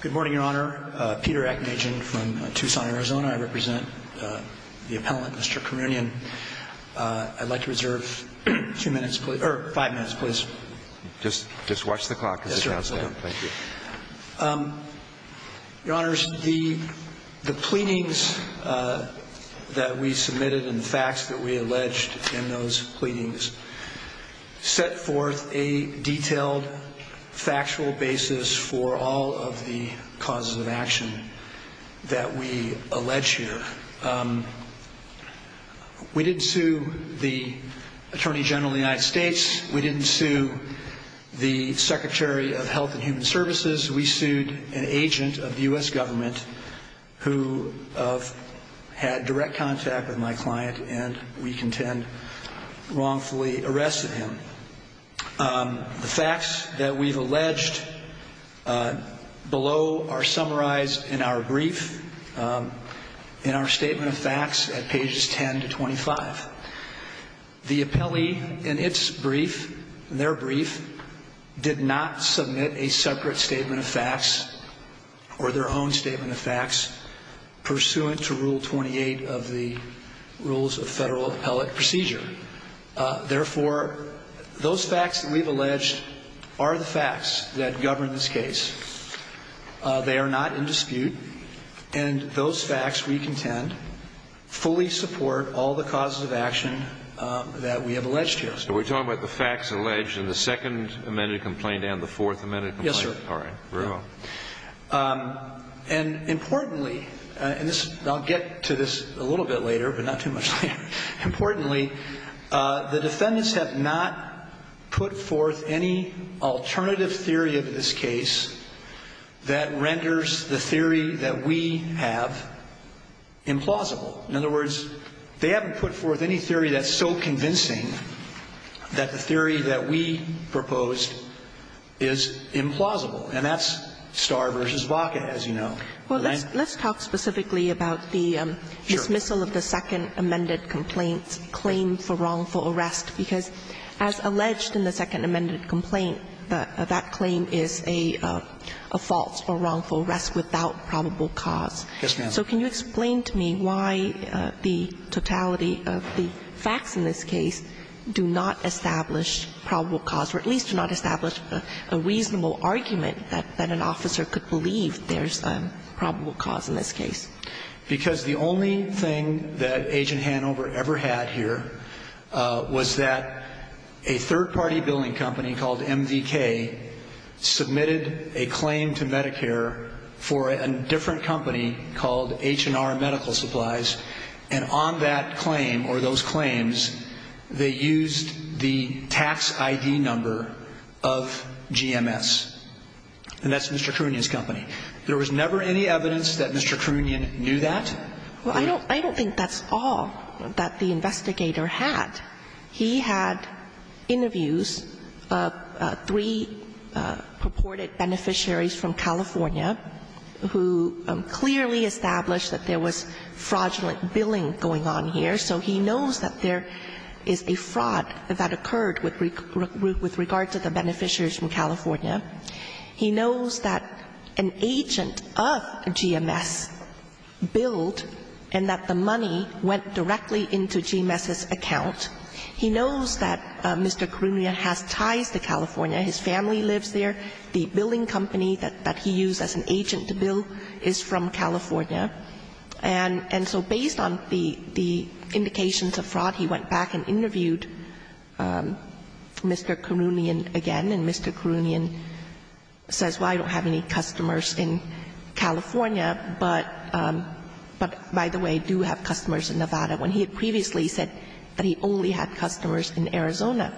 Good morning, Your Honor. Peter Aknajan from Tucson, Arizona. I represent the appellant, Mr. Karunyan. I'd like to reserve two minutes, or five minutes, please. Just watch the clock, Mr. Counselor. Thank you. Your Honors, the pleadings that we submitted and the facts that we alleged in those pleadings set forth a detailed, factual basis for all of the causes of action that we allege here. We didn't sue the Attorney General of the United States. We didn't sue the Secretary of Health and Human Services. We sued an agent of the U.S. government who had direct contact with my client and we contend wrongfully arrested him. The facts that we've alleged below are summarized in our brief, in our Statement of Facts at pages 10 to 25. The appellee in its brief, in their brief, did not submit a separate Statement of Facts or their own Statement of Facts pursuant to Rule 28 of the Rules of Federal Appellate Procedure. Therefore, those facts that we've alleged are the facts that govern this case. They are not in dispute, and those facts, we contend, fully support all the causes of action that we have alleged here. So we're talking about the facts alleged in the second amended complaint and the fourth amended complaint? Yes, sir. All right. Very well. And importantly, and I'll get to this a little bit later, but not too much later. Importantly, the defendants have not put forth any alternative theory of this case that renders the theory that we have implausible. In other words, they haven't put forth any theory that's so convincing that the theory that we proposed is implausible. And that's Starr v. Wacka, as you know. Well, let's talk specifically about the dismissal of the second amended complaint's claim for wrongful arrest, because as alleged in the second amended complaint, that claim is a false or wrongful arrest without probable cause. Yes, ma'am. So can you explain to me why the totality of the facts in this case do not establish probable cause or at least do not establish a reasonable argument that an officer could believe there's probable cause in this case? Because the only thing that Agent Hanover ever had here was that a third-party billing company called MDK submitted a claim to Medicare for a different company called H&R Medical Supplies, and on that claim or those claims, they used the tax ID number of GMS, and that's Mr. Kroonjian's company. There was never any evidence that Mr. Kroonjian knew that? Well, I don't think that's all that the investigator had. He had interviews of three purported beneficiaries from California who clearly established that there was fraudulent billing going on here. So he knows that there is a fraud that occurred with regard to the beneficiaries from California. He knows that an agent of GMS billed and that the money went directly into GMS's account. He knows that Mr. Kroonjian has ties to California. His family lives there. The billing company that he used as an agent to bill is from California. And so based on the indications of fraud, he went back and interviewed Mr. Kroonjian again, and Mr. Kroonjian says, well, I don't have any customers in California, but by the way, do have customers in Nevada, when he had previously said that he only had customers in Arizona.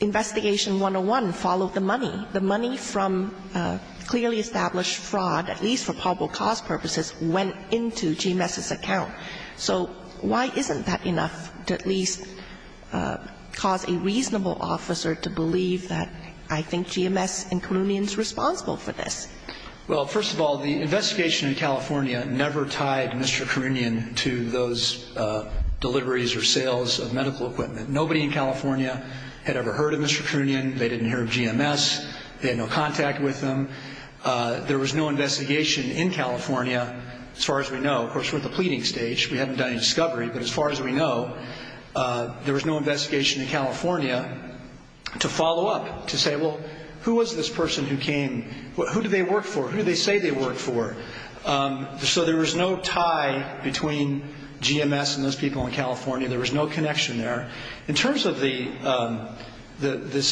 Investigation 101 followed the money. The money from clearly established fraud, at least for probable cause purposes, went into GMS's account. So why isn't that enough to at least cause a reasonable officer to believe that I think GMS and Kroonjian is responsible for this? Well, first of all, the investigation in California never tied Mr. Kroonjian to those deliveries or sales of medical equipment. Nobody in California had ever heard of Mr. Kroonjian. They didn't hear of GMS. They had no contact with him. There was no investigation in California, as far as we know. Of course, we're at the pleading stage. We haven't done any discovery. But as far as we know, there was no investigation in California to follow up, to say, well, who was this person who came? Who do they work for? Who do they say they work for? So there was no tie between GMS and those people in California. There was no connection there. In terms of this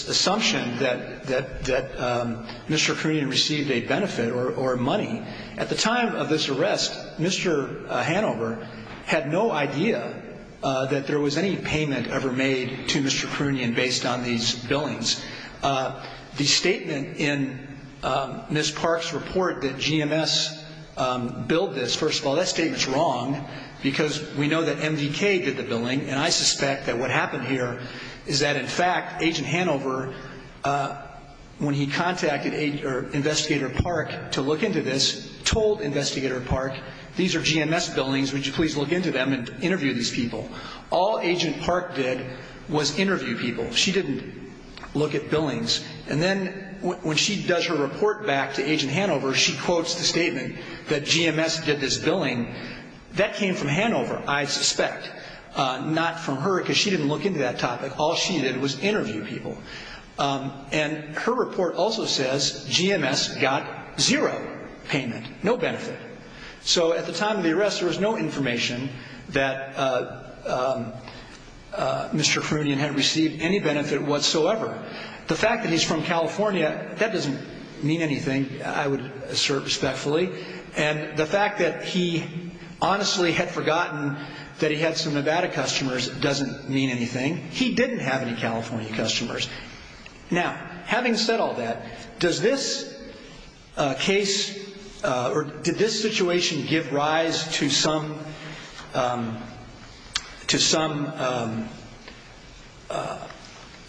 assumption that Mr. Kroonjian received a benefit or money, at the time of this arrest, Mr. Hanover had no idea that there was any payment ever made to Mr. Kroonjian based on these billings. The statement in Ms. Park's report that GMS billed this, first of all, that statement's wrong because we know that MDK did the billing, and I suspect that what happened here is that, in fact, Agent Hanover, when he contacted Investigator Park to look into this, told Investigator Park, these are GMS billings. Would you please look into them and interview these people? All Agent Park did was interview people. She didn't look at billings. And then when she does her report back to Agent Hanover, she quotes the statement that GMS did this billing. That came from Hanover, I suspect. Not from her because she didn't look into that topic. All she did was interview people. And her report also says GMS got zero payment, no benefit. So at the time of the arrest, there was no information that Mr. Kroonjian had received any benefit whatsoever. The fact that he's from California, that doesn't mean anything, I would assert respectfully. And the fact that he honestly had forgotten that he had some Nevada customers doesn't mean anything. He didn't have any California customers. Now, having said all that, does this case or did this situation give rise to some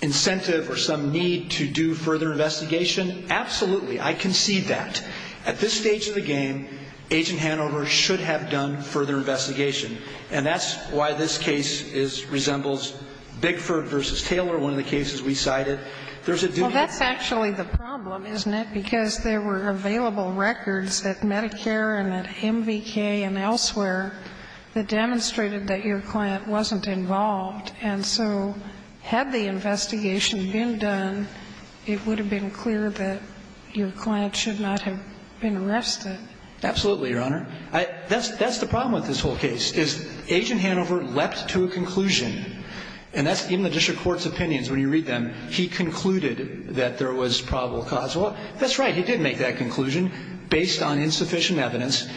incentive or some need to do further investigation? Absolutely. I concede that. At this stage of the game, Agent Hanover should have done further investigation. And that's why this case resembles Bigford v. Taylor, one of the cases we cited. There's a due process. Well, that's actually the problem, isn't it? Because there were available records at Medicare and at MVK and elsewhere that demonstrated that your client wasn't involved. And so had the investigation been done, it would have been clear that your client should not have been arrested. Absolutely, Your Honor. That's the problem with this whole case, is Agent Hanover leapt to a conclusion. And that's even the district court's opinions when you read them. He concluded that there was probable cause. Well, that's right, he did make that conclusion based on insufficient evidence.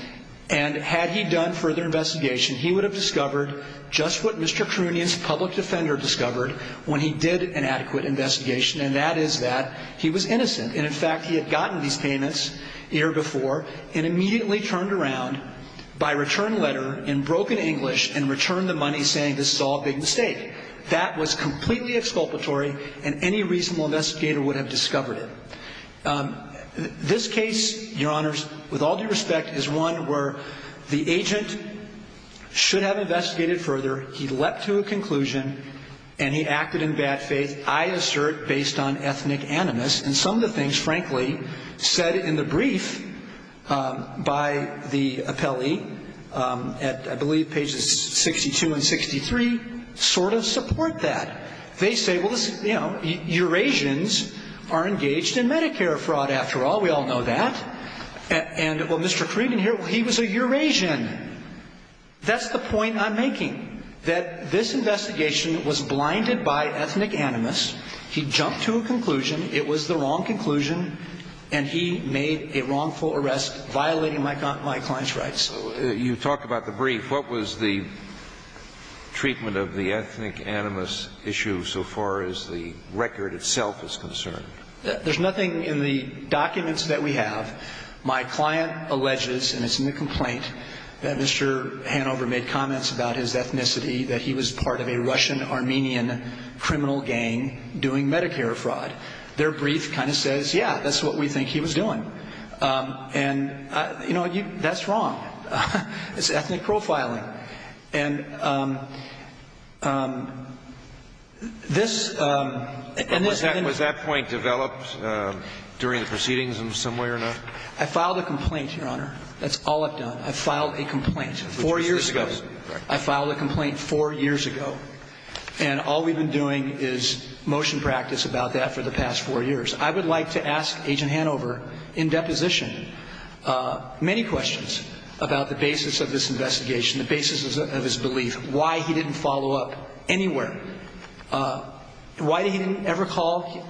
And had he done further investigation, he would have discovered just what Mr. Kroonjian's public defender discovered when he did an adequate investigation. And that is that he was innocent. And, in fact, he had gotten these payments the year before and immediately turned around by return letter in broken English and returned the money saying this is all a big mistake. That was completely exculpatory, and any reasonable investigator would have discovered it. This case, Your Honors, with all due respect, is one where the agent should have investigated further. He leapt to a conclusion, and he acted in bad faith. I assert based on ethnic animus, and some of the things, frankly, said in the brief by the appellee at, I believe, pages 62 and 63, sort of support that. They say, well, you know, Eurasians are engaged in Medicare fraud after all. We all know that. And, well, Mr. Kroonjian here, he was a Eurasian. That's the point I'm making, that this investigation was blinded by ethnic animus. He jumped to a conclusion. It was the wrong conclusion, and he made a wrongful arrest, violating my client's rights. So you talk about the brief. What was the treatment of the ethnic animus issue so far as the record itself is concerned? There's nothing in the documents that we have. My client alleges, and it's in the complaint, that Mr. Hanover made comments about his ethnicity, that he was part of a Russian-Armenian criminal gang doing Medicare fraud. Their brief kind of says, yeah, that's what we think he was doing. And, you know, that's wrong. It's ethnic profiling. Was that point developed during the proceedings in some way or another? I filed a complaint, Your Honor. That's all I've done. I filed a complaint four years ago. I filed a complaint four years ago. And all we've been doing is motion practice about that for the past four years. I would like to ask Agent Hanover, in deposition, many questions about the basis of this investigation, the basis of his belief, why he didn't follow up anywhere. Why he didn't ever call?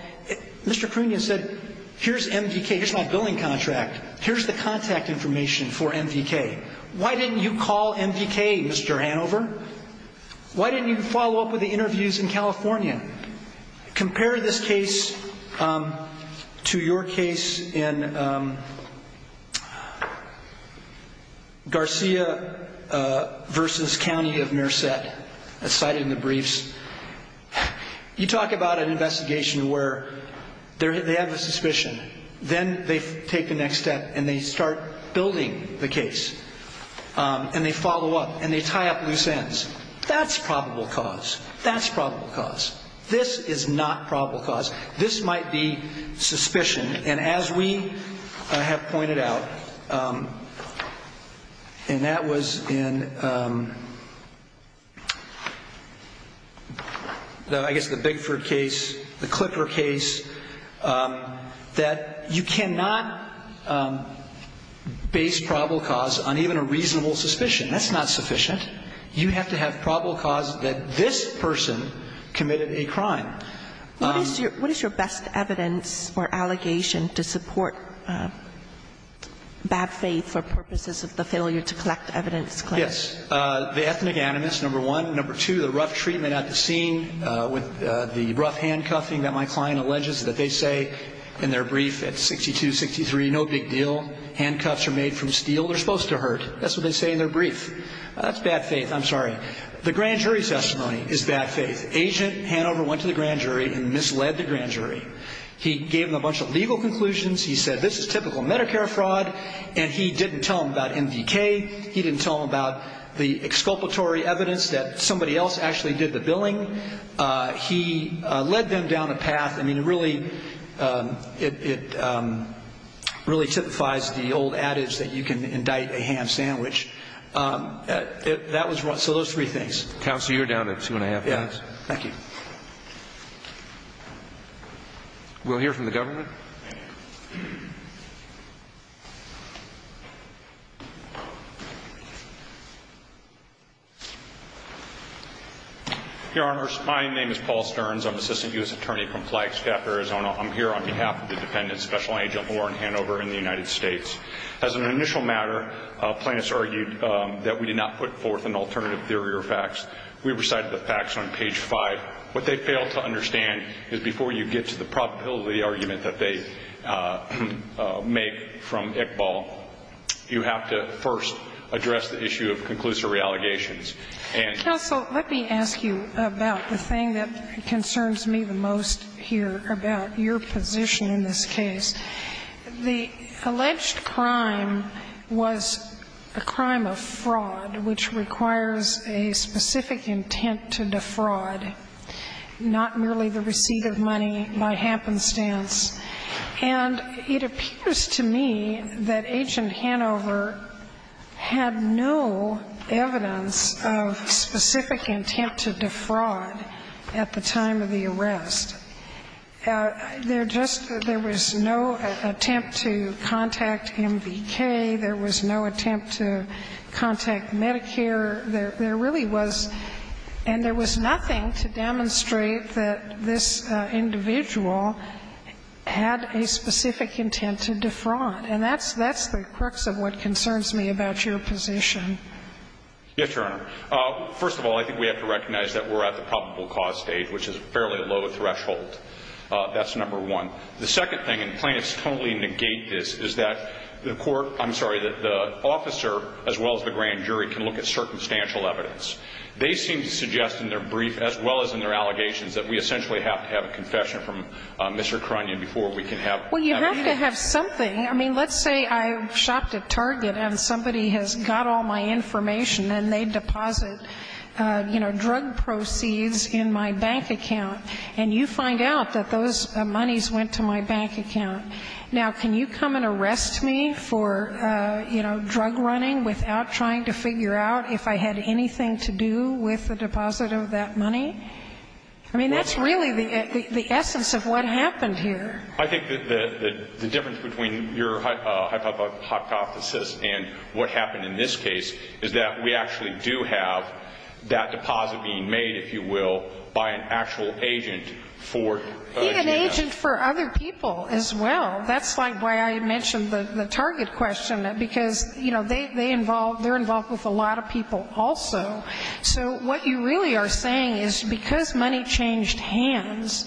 Mr. Krunian said, here's MVK, here's my billing contract. Here's the contact information for MVK. Why didn't you call MVK, Mr. Hanover? Why didn't you follow up with the interviews in California? Compare this case to your case in Garcia v. County of Nearset, cited in the briefs. You talk about an investigation where they have a suspicion. Then they take the next step and they start building the case. And they follow up and they tie up loose ends. That's probable cause. That's probable cause. This is not probable cause. This might be suspicion. And as we have pointed out, and that was in, I guess, the Bigford case, the Clipper case, that you cannot base probable cause on even a reasonable suspicion. That's not sufficient. You have to have probable cause that this person committed a crime. What is your best evidence or allegation to support bad faith for purposes of the failure to collect evidence? Yes. The ethnic animus, number one. Number two, the rough treatment at the scene with the rough handcuffing that my client alleges that they say in their brief at 62, 63, no big deal. Handcuffs are made from steel. They're supposed to hurt. That's what they say in their brief. That's bad faith. I'm sorry. The grand jury testimony is bad faith. Agent Hanover went to the grand jury and misled the grand jury. He gave them a bunch of legal conclusions. He said this is typical Medicare fraud. And he didn't tell them about NVK. He didn't tell them about the exculpatory evidence that somebody else actually did the billing. He led them down a path. I mean, really, it really typifies the old adage that you can indict a ham sandwich. That was one. So those three things. Counsel, you're down to two and a half minutes. We'll hear from the government. Your Honor, my name is Paul Stearns. I'm Assistant U.S. Attorney from Flagstaff, Arizona. I'm here on behalf of the defendant, Special Agent Warren Hanover, in the United States. As an initial matter, plaintiffs argued that we did not put forth an alternative theory or facts. We recited the facts on page five. What they failed to understand is before you get to the probability argument that they make from Iqbal, you have to first address the issue of conclusive reallogations. Counsel, let me ask you about the thing that concerns me the most here about your position in this case. The alleged crime was a crime of fraud which requires a specific intent to defraud, not merely the receipt of money by happenstance. And it appears to me that Agent Hanover had no evidence of specific intent to defraud at the time of the arrest. There just – there was no attempt to contact MVK. There was no attempt to contact Medicare. There really was – and there was nothing to demonstrate that this individual had a specific intent to defraud. And that's the crux of what concerns me about your position. Yes, Your Honor. First of all, I think we have to recognize that we're at the probable cause stage, which is a fairly low threshold. That's number one. The second thing, and plaintiffs totally negate this, is that the court – I'm sorry, that the officer as well as the grand jury can look at circumstantial evidence. They seem to suggest in their brief as well as in their allegations that we essentially have to have a confession from Mr. Karunyan before we can have evidence. Well, you have to have something. I mean, let's say I shopped at Target and somebody has got all my information and they deposit, you know, drug proceeds in my bank account, and you find out that those monies went to my bank account. Now, can you come and arrest me for, you know, drug running without trying to figure out if I had anything to do with the deposit of that money? I mean, that's really the essence of what happened here. I think that the difference between your hypothesis and what happened in this case is that we actually do have that deposit being made, if you will, by an actual agent for GMS. Be an agent for other people as well. That's like why I mentioned the Target question, because, you know, they involve – they're involved with a lot of people also. So what you really are saying is because money changed hands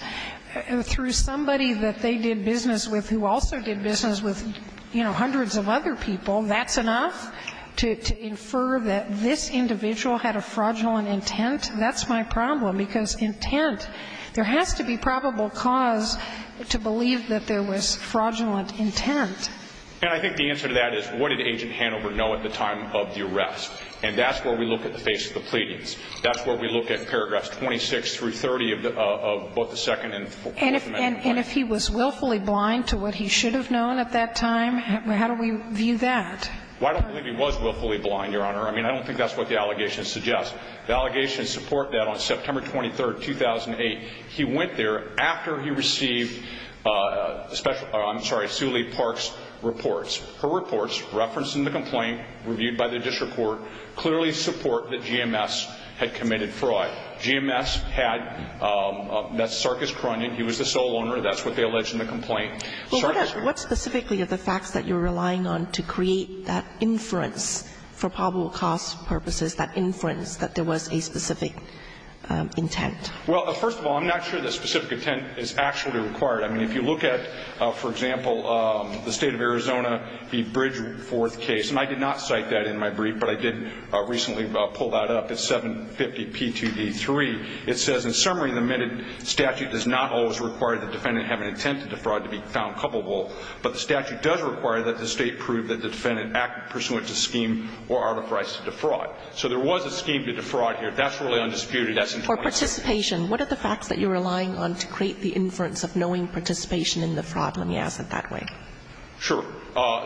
through somebody that they did business with who also did business with, you know, hundreds of other people, that's enough to infer that this individual had a fraudulent intent? That's my problem, because intent. There has to be probable cause to believe that there was fraudulent intent. And I think the answer to that is what did Agent Hanover know at the time of the arrest? And that's where we look at the face of the pleadings. That's where we look at paragraphs 26 through 30 of both the second and fourth amendment. And if he was willfully blind to what he should have known at that time, how do we view that? Well, I don't believe he was willfully blind, Your Honor. I mean, I don't think that's what the allegations suggest. The allegations support that on September 23, 2008, he went there after he received special – I'm sorry, Suli Park's reports. Her reports, referenced in the complaint, reviewed by the district court, clearly support that GMS had committed fraud. GMS had, that's Sarkis Kroenig. He was the sole owner. That's what they allege in the complaint. Well, what specifically are the facts that you're relying on to create that inference for probable cause purposes, that inference that there was a specific intent? Well, first of all, I'm not sure the specific intent is actually required. I mean, if you look at, for example, the State of Arizona, the Bridgeworth case, and I did not cite that in my brief, but I did recently pull that up. It's 750P2D3. It says, In summary, the amended statute does not always require the defendant to have an intent to defraud to be found culpable, but the statute does require that the State prove that the defendant acted pursuant to scheme or artifice to defraud. So there was a scheme to defraud here. That's really undisputed. For participation, what are the facts that you're relying on to create the inference of knowing participation in the fraud? Let me ask it that way. Sure.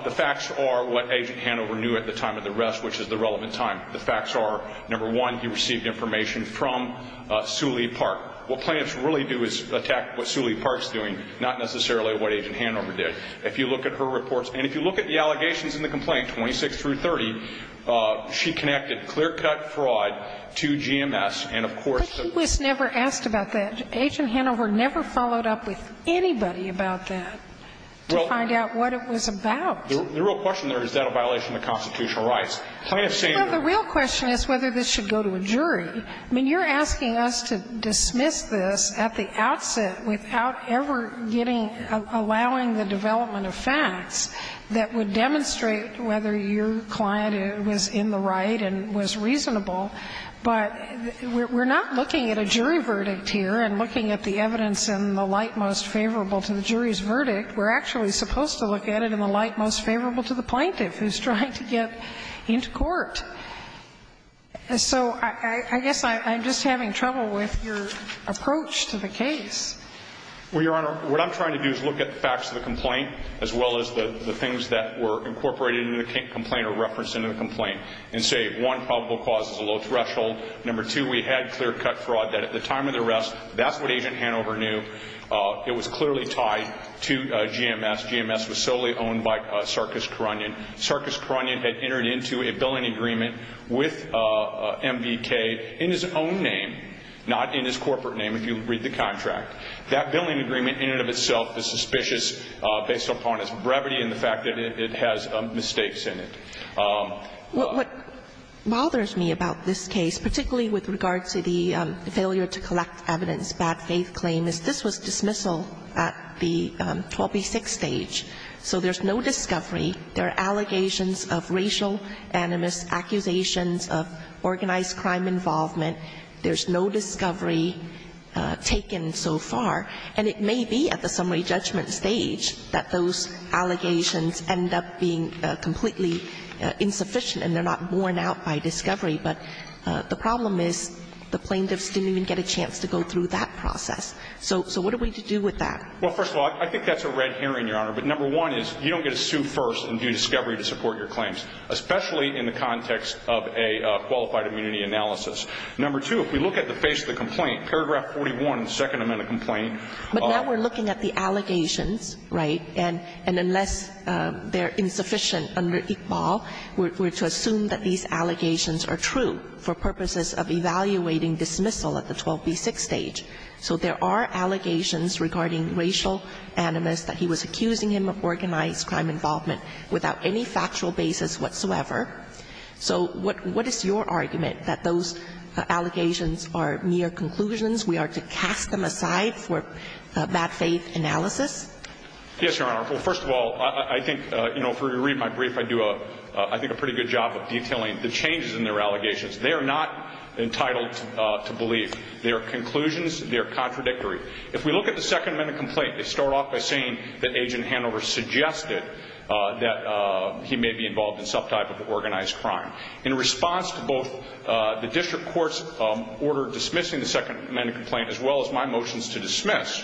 The facts are what Agent Hanover knew at the time of the arrest, which is the relevant time. The facts are, number one, he received information from Suley Park. What plaintiffs really do is attack what Suley Park's doing, not necessarily what Agent Hanover did. If you look at her reports, and if you look at the allegations in the complaint, 26 through 30, she connected clear-cut fraud to GMS, and of course the ---- But he was never asked about that. Agent Hanover never followed up with anybody about that to find out what it was about. The real question there is, is that a violation of the constitutional rights? Plaintiffs say no. Well, the real question is whether this should go to a jury. I mean, you're asking us to dismiss this at the outset without ever getting ---- allowing the development of facts that would demonstrate whether your client was in the right and was reasonable. But we're not looking at a jury verdict here and looking at the evidence in the light most favorable to the jury's verdict. We're actually supposed to look at it in the light most favorable to the plaintiff who's trying to get into court. So I guess I'm just having trouble with your approach to the case. Well, Your Honor, what I'm trying to do is look at the facts of the complaint as well as the things that were incorporated into the complaint or referenced into the complaint and say, one, probable cause is a low threshold. Number two, we had clear-cut fraud that at the time of the arrest, that's what Agent Hanover knew. It was clearly tied to GMS. GMS was solely owned by Sarkis Karunyan. Sarkis Karunyan had entered into a billing agreement with MBK in his own name, not in his corporate name if you read the contract. That billing agreement in and of itself is suspicious based upon its brevity and the fact that it has mistakes in it. What bothers me about this case, particularly with regard to the failure to collect evidence, bad faith claim, is this was dismissal at the 12B6 stage. So there's no discovery. There are allegations of racial animus, accusations of organized crime involvement. There's no discovery taken so far. And it may be at the summary judgment stage that those allegations end up being completely insufficient and they're not worn out by discovery. But the problem is the plaintiffs didn't even get a chance to go through that process. So what are we to do with that? Well, first of all, I think that's a red herring, Your Honor. But number one is you don't get to sue first and do discovery to support your claims, especially in the context of a qualified immunity analysis. Number two, if we look at the face of the complaint, paragraph 41, the second element of complaint are the allegations. But now we're looking at the allegations, right? And unless they're insufficient under Iqbal, we're to assume that these allegations are true for purposes of evaluating dismissal at the 12B6 stage. So there are allegations regarding racial animus that he was accusing him of organized crime involvement without any factual basis whatsoever. So what is your argument that those allegations are mere conclusions? We are to cast them aside for bad faith analysis? Yes, Your Honor. Well, first of all, I think, you know, if you read my brief, I do a pretty good job of detailing the changes in their allegations. They are not entitled to believe. They are conclusions. They are contradictory. If we look at the Second Amendment complaint, they start off by saying that Agent Hanover suggested that he may be involved in some type of organized crime. In response to both the district court's order dismissing the Second Amendment complaint as well as my motions to dismiss,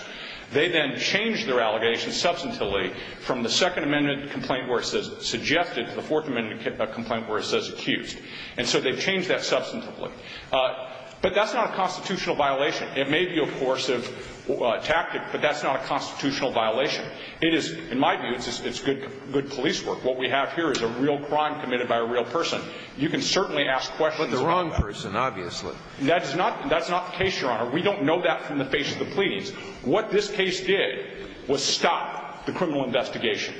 they then change their allegations substantively from the Second Amendment complaint where it says suggested to the Fourth Amendment complaint where it says accused. And so they've changed that substantively. But that's not a constitutional violation. It may be a coercive tactic, but that's not a constitutional violation. It is, in my view, it's good police work. What we have here is a real crime committed by a real person. You can certainly ask questions about that. But the wrong person, obviously. That's not the case, Your Honor. We don't know that from the face of the police. What this case did was stop the criminal investigation.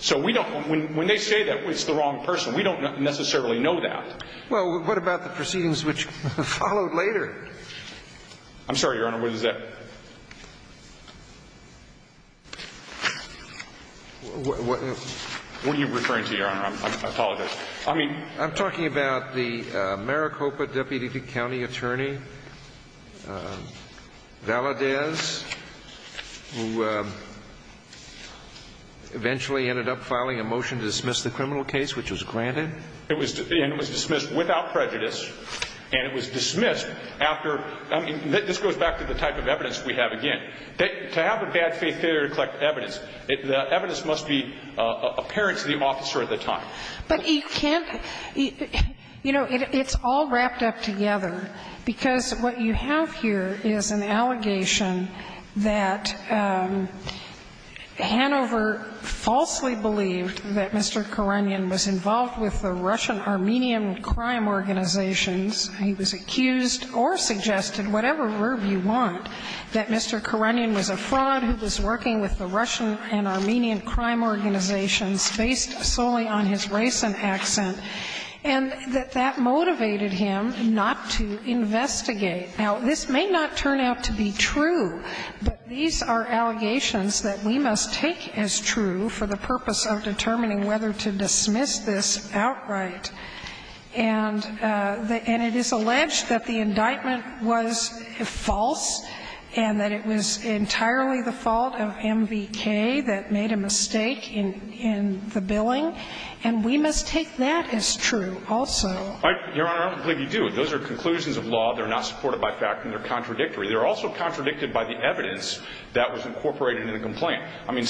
So we don't – when they say that it's the wrong person, we don't necessarily know that. Well, what about the proceedings which followed later? I'm sorry, Your Honor. What is that? What are you referring to, Your Honor? I apologize. I'm talking about the Maricopa deputy county attorney, Valadez, who eventually ended up filing a motion to dismiss the criminal case which was granted. And it was dismissed without prejudice. And it was dismissed after – this goes back to the type of evidence we have again. To have a bad faith theory to collect evidence, the evidence must be apparent to the officer at the time. But you can't – you know, it's all wrapped up together. Because what you have here is an allegation that Hanover falsely believed that Mr. Karanian was involved with the Russian-Armenian crime organizations. He was accused or suggested, whatever verb you want, that Mr. Karanian was a fraud who was working with the Russian and Armenian crime organizations based solely on his race and accent, and that that motivated him not to investigate. Now, this may not turn out to be true, but these are allegations that we must take as true for the purpose of determining whether to dismiss this outright. And it is alleged that the indictment was false and that it was entirely the fault of MVK that made a mistake in the billing, and we must take that as true also. Your Honor, I don't believe you do. Those are conclusions of law. They're not supported by fact, and they're contradictory. They're also contradicted by the evidence that was incorporated in the complaint. I mean,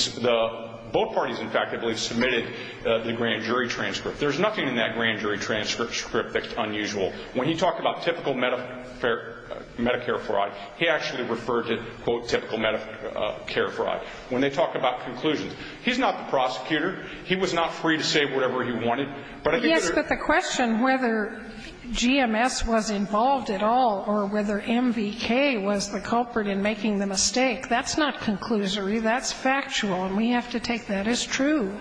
both parties, in fact, I believe, submitted the grant jury transcript. There's nothing in that grant jury transcript that's unusual. When he talked about typical Medicare fraud, he actually referred to, quote, typical Medicare fraud. When they talk about conclusions, he's not the prosecutor. He was not free to say whatever he wanted. But I think there's a question whether GMS was involved at all or whether MVK was the culprit in making the mistake. That's not conclusory. That's factual, and we have to take that as true.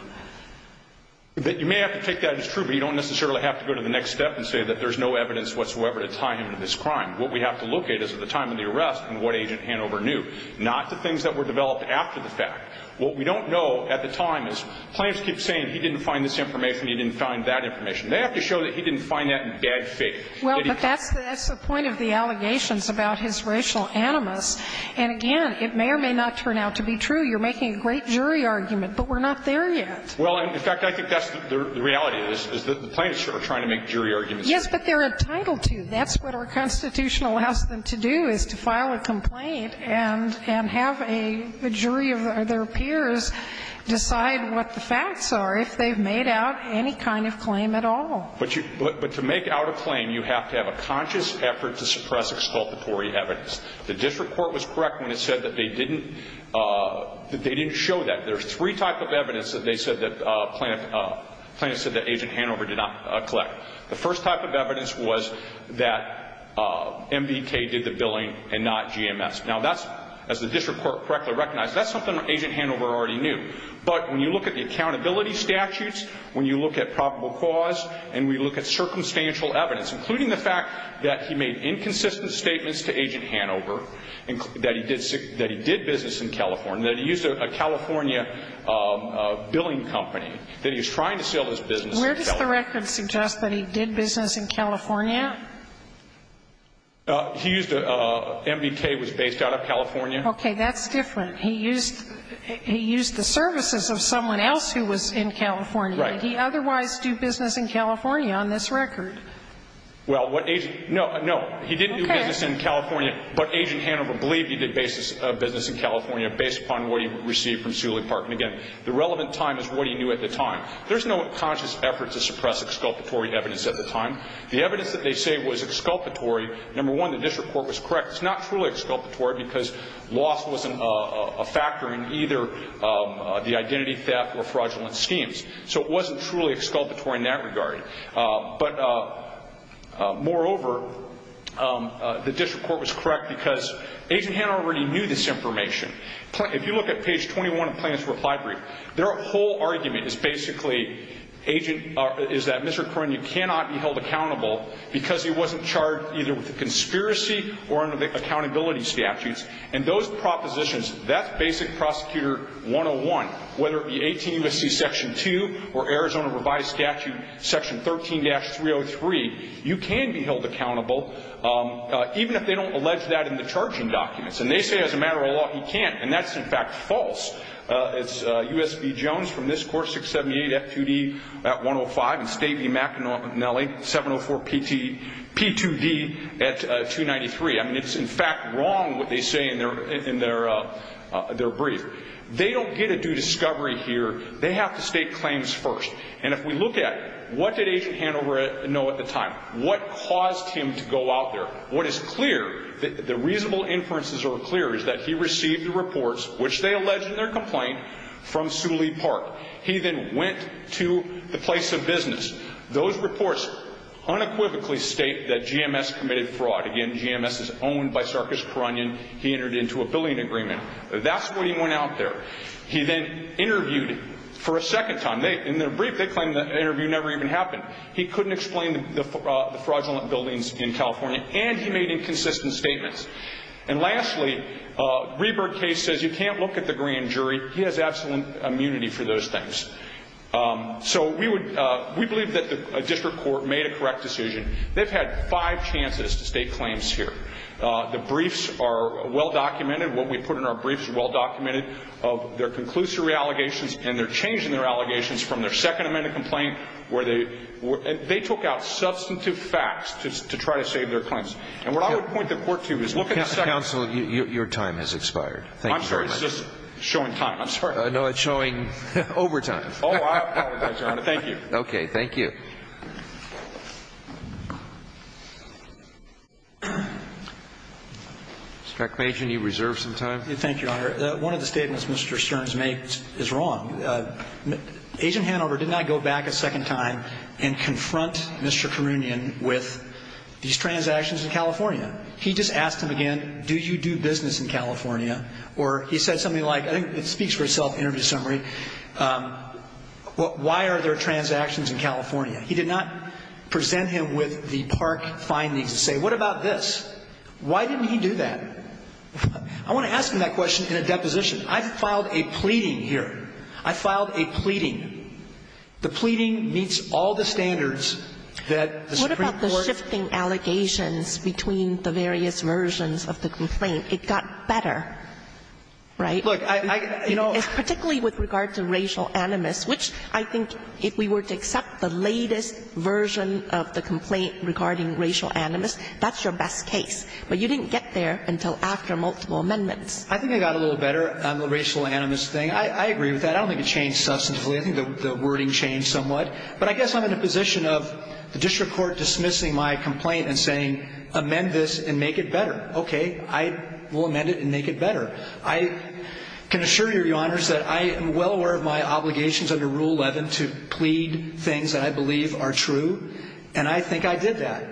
But you may have to take that as true, but you don't necessarily have to go to the next step and say that there's no evidence whatsoever to tie him to this crime. What we have to look at is at the time of the arrest and what Agent Hanover knew, not the things that were developed after the fact. What we don't know at the time is claims keep saying he didn't find this information, he didn't find that information. They have to show that he didn't find that in bad faith. Well, but that's the point of the allegations about his racial animus. And again, it may or may not turn out to be true. You're making a great jury argument, but we're not there yet. Well, in fact, I think that's the reality, is that the plaintiffs are trying to make jury arguments. Yes, but they're entitled to. That's what our Constitution allows them to do, is to file a complaint and have a jury of their peers decide what the facts are if they've made out any kind of claim at all. But to make out a claim, you have to have a conscious effort to suppress exculpatory evidence. The district court was correct when it said that they didn't show that. There's three types of evidence that plaintiffs said that Agent Hanover did not collect. The first type of evidence was that MBK did the billing and not GMS. Now, as the district court correctly recognized, that's something that Agent Hanover already knew. But when you look at the accountability statutes, when you look at probable cause, and we look at circumstantial evidence, including the fact that he made inconsistent statements to Agent Hanover, that he did business in California, that he used a California billing company, that he was trying to sell his business in California. Where does the record suggest that he did business in California? He used a MBK was based out of California. Okay. That's different. He used the services of someone else who was in California. Right. Did he otherwise do business in California on this record? Well, what Agent no, no. Okay. He didn't do business in California, but Agent Hanover believed he did business in California based upon what he received from Suley Park. And, again, the relevant time is what he knew at the time. There's no conscious effort to suppress exculpatory evidence at the time. The evidence that they say was exculpatory, number one, the district court was correct. It's not truly exculpatory because loss wasn't a factor in either the identity theft or fraudulent schemes. So it wasn't truly exculpatory in that regard. But, moreover, the district court was correct because Agent Hanover already knew this information. If you look at page 21 of Plaintiff's reply brief, their whole argument is basically that Mr. Coronia cannot be held accountable because he wasn't charged either with a conspiracy or under the accountability statutes. And those propositions, that's Basic Prosecutor 101, whether it be 18 U.S.C. Section 2 or Arizona Revised Statute Section 13-303, you can be held accountable, even if they don't allege that in the charging documents. And they say, as a matter of law, he can't. And that's, in fact, false. It's U.S.B. Jones from this court, 678 F2D at 105, and State v. McAnally, 704 P2D at 293. I mean, it's, in fact, wrong what they say in their brief. They don't get a due discovery here. They have to state claims first. And if we look at what did Agent Hanover know at the time, what caused him to go out there, what is clear, the reasonable inferences are clear, is that he received the reports, which they allege in their complaint, from Suli Park. He then went to the place of business. Those reports unequivocally state that GMS committed fraud. Again, GMS is owned by Sarkis Coronian. He entered into a billing agreement. That's what he went out there. He then interviewed for a second time. In their brief, they claim the interview never even happened. He couldn't explain the fraudulent buildings in California, and he made inconsistent statements. And lastly, Rieberg case says you can't look at the grand jury. He has absolute immunity for those things. So we believe that the district court made a correct decision. They've had five chances to state claims here. The briefs are well-documented. What we put in our briefs is well-documented of their conclusory allegations and their change in their allegations from their second amended complaint where they took out substantive facts to try to save their claims. And what I would point the court to is look at the second. Counsel, your time has expired. Thank you very much. I'm sorry. It's just showing time. I'm sorry. No, it's showing overtime. Oh, I apologize, Your Honor. Thank you. Thank you. Mr. McMajor, do you reserve some time? Thank you, Your Honor. One of the statements Mr. Stearns made is wrong. Agent Hanover did not go back a second time and confront Mr. Carunian with these transactions in California. He just asked him again, do you do business in California? Or he said something like, I think it speaks for itself, interview summary, why are there transactions in California? He did not present him with the park findings and say, what about this? Why didn't he do that? I want to ask him that question in a deposition. I filed a pleading here. I filed a pleading. The pleading meets all the standards that the Supreme Court ---- What about the shifting allegations between the various versions of the complaint? It got better, right? Look, I ---- Particularly with regard to racial animus, which I think if we were to accept the latest version of the complaint regarding racial animus, that's your best case. But you didn't get there until after multiple amendments. I think I got a little better on the racial animus thing. I agree with that. I don't think it changed substantively. I think the wording changed somewhat. But I guess I'm in a position of the district court dismissing my complaint and saying, amend this and make it better. Okay. I will amend it and make it better. I can assure you, Your Honors, that I am well aware of my obligations under Rule 11 to plead things that I believe are true. And I think I did that.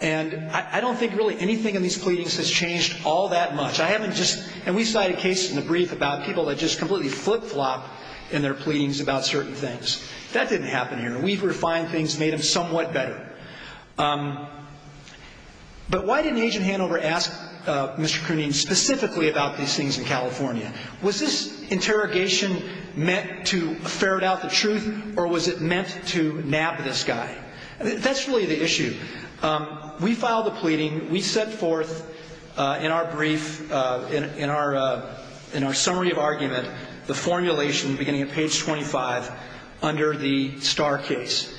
And I don't think really anything in these pleadings has changed all that much. I haven't just ---- And we cited a case in the brief about people that just completely flip-flopped in their pleadings about certain things. That didn't happen here. We've refined things, made them somewhat better. But why didn't Agent Hanover ask Mr. Krooning specifically about these things in California? Was this interrogation meant to ferret out the truth, or was it meant to nab this guy? That's really the issue. We filed a pleading. We set forth in our brief, in our summary of argument, the formulation beginning at page 25 under the Starr case.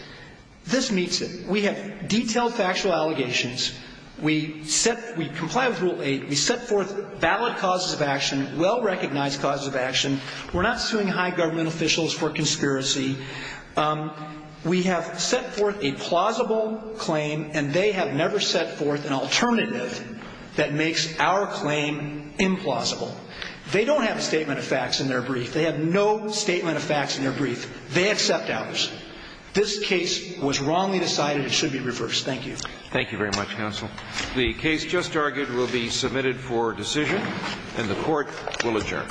This meets it. We have detailed factual allegations. We comply with Rule 8. We set forth valid causes of action, well-recognized causes of action. We're not suing high government officials for conspiracy. We have set forth a plausible claim, and they have never set forth an alternative that makes our claim implausible. They don't have a statement of facts in their brief. They have no statement of facts in their brief. They accept ours. This case was wrongly decided. It should be reversed. Thank you. Thank you very much, counsel. The case just argued will be submitted for decision, and the court will adjourn.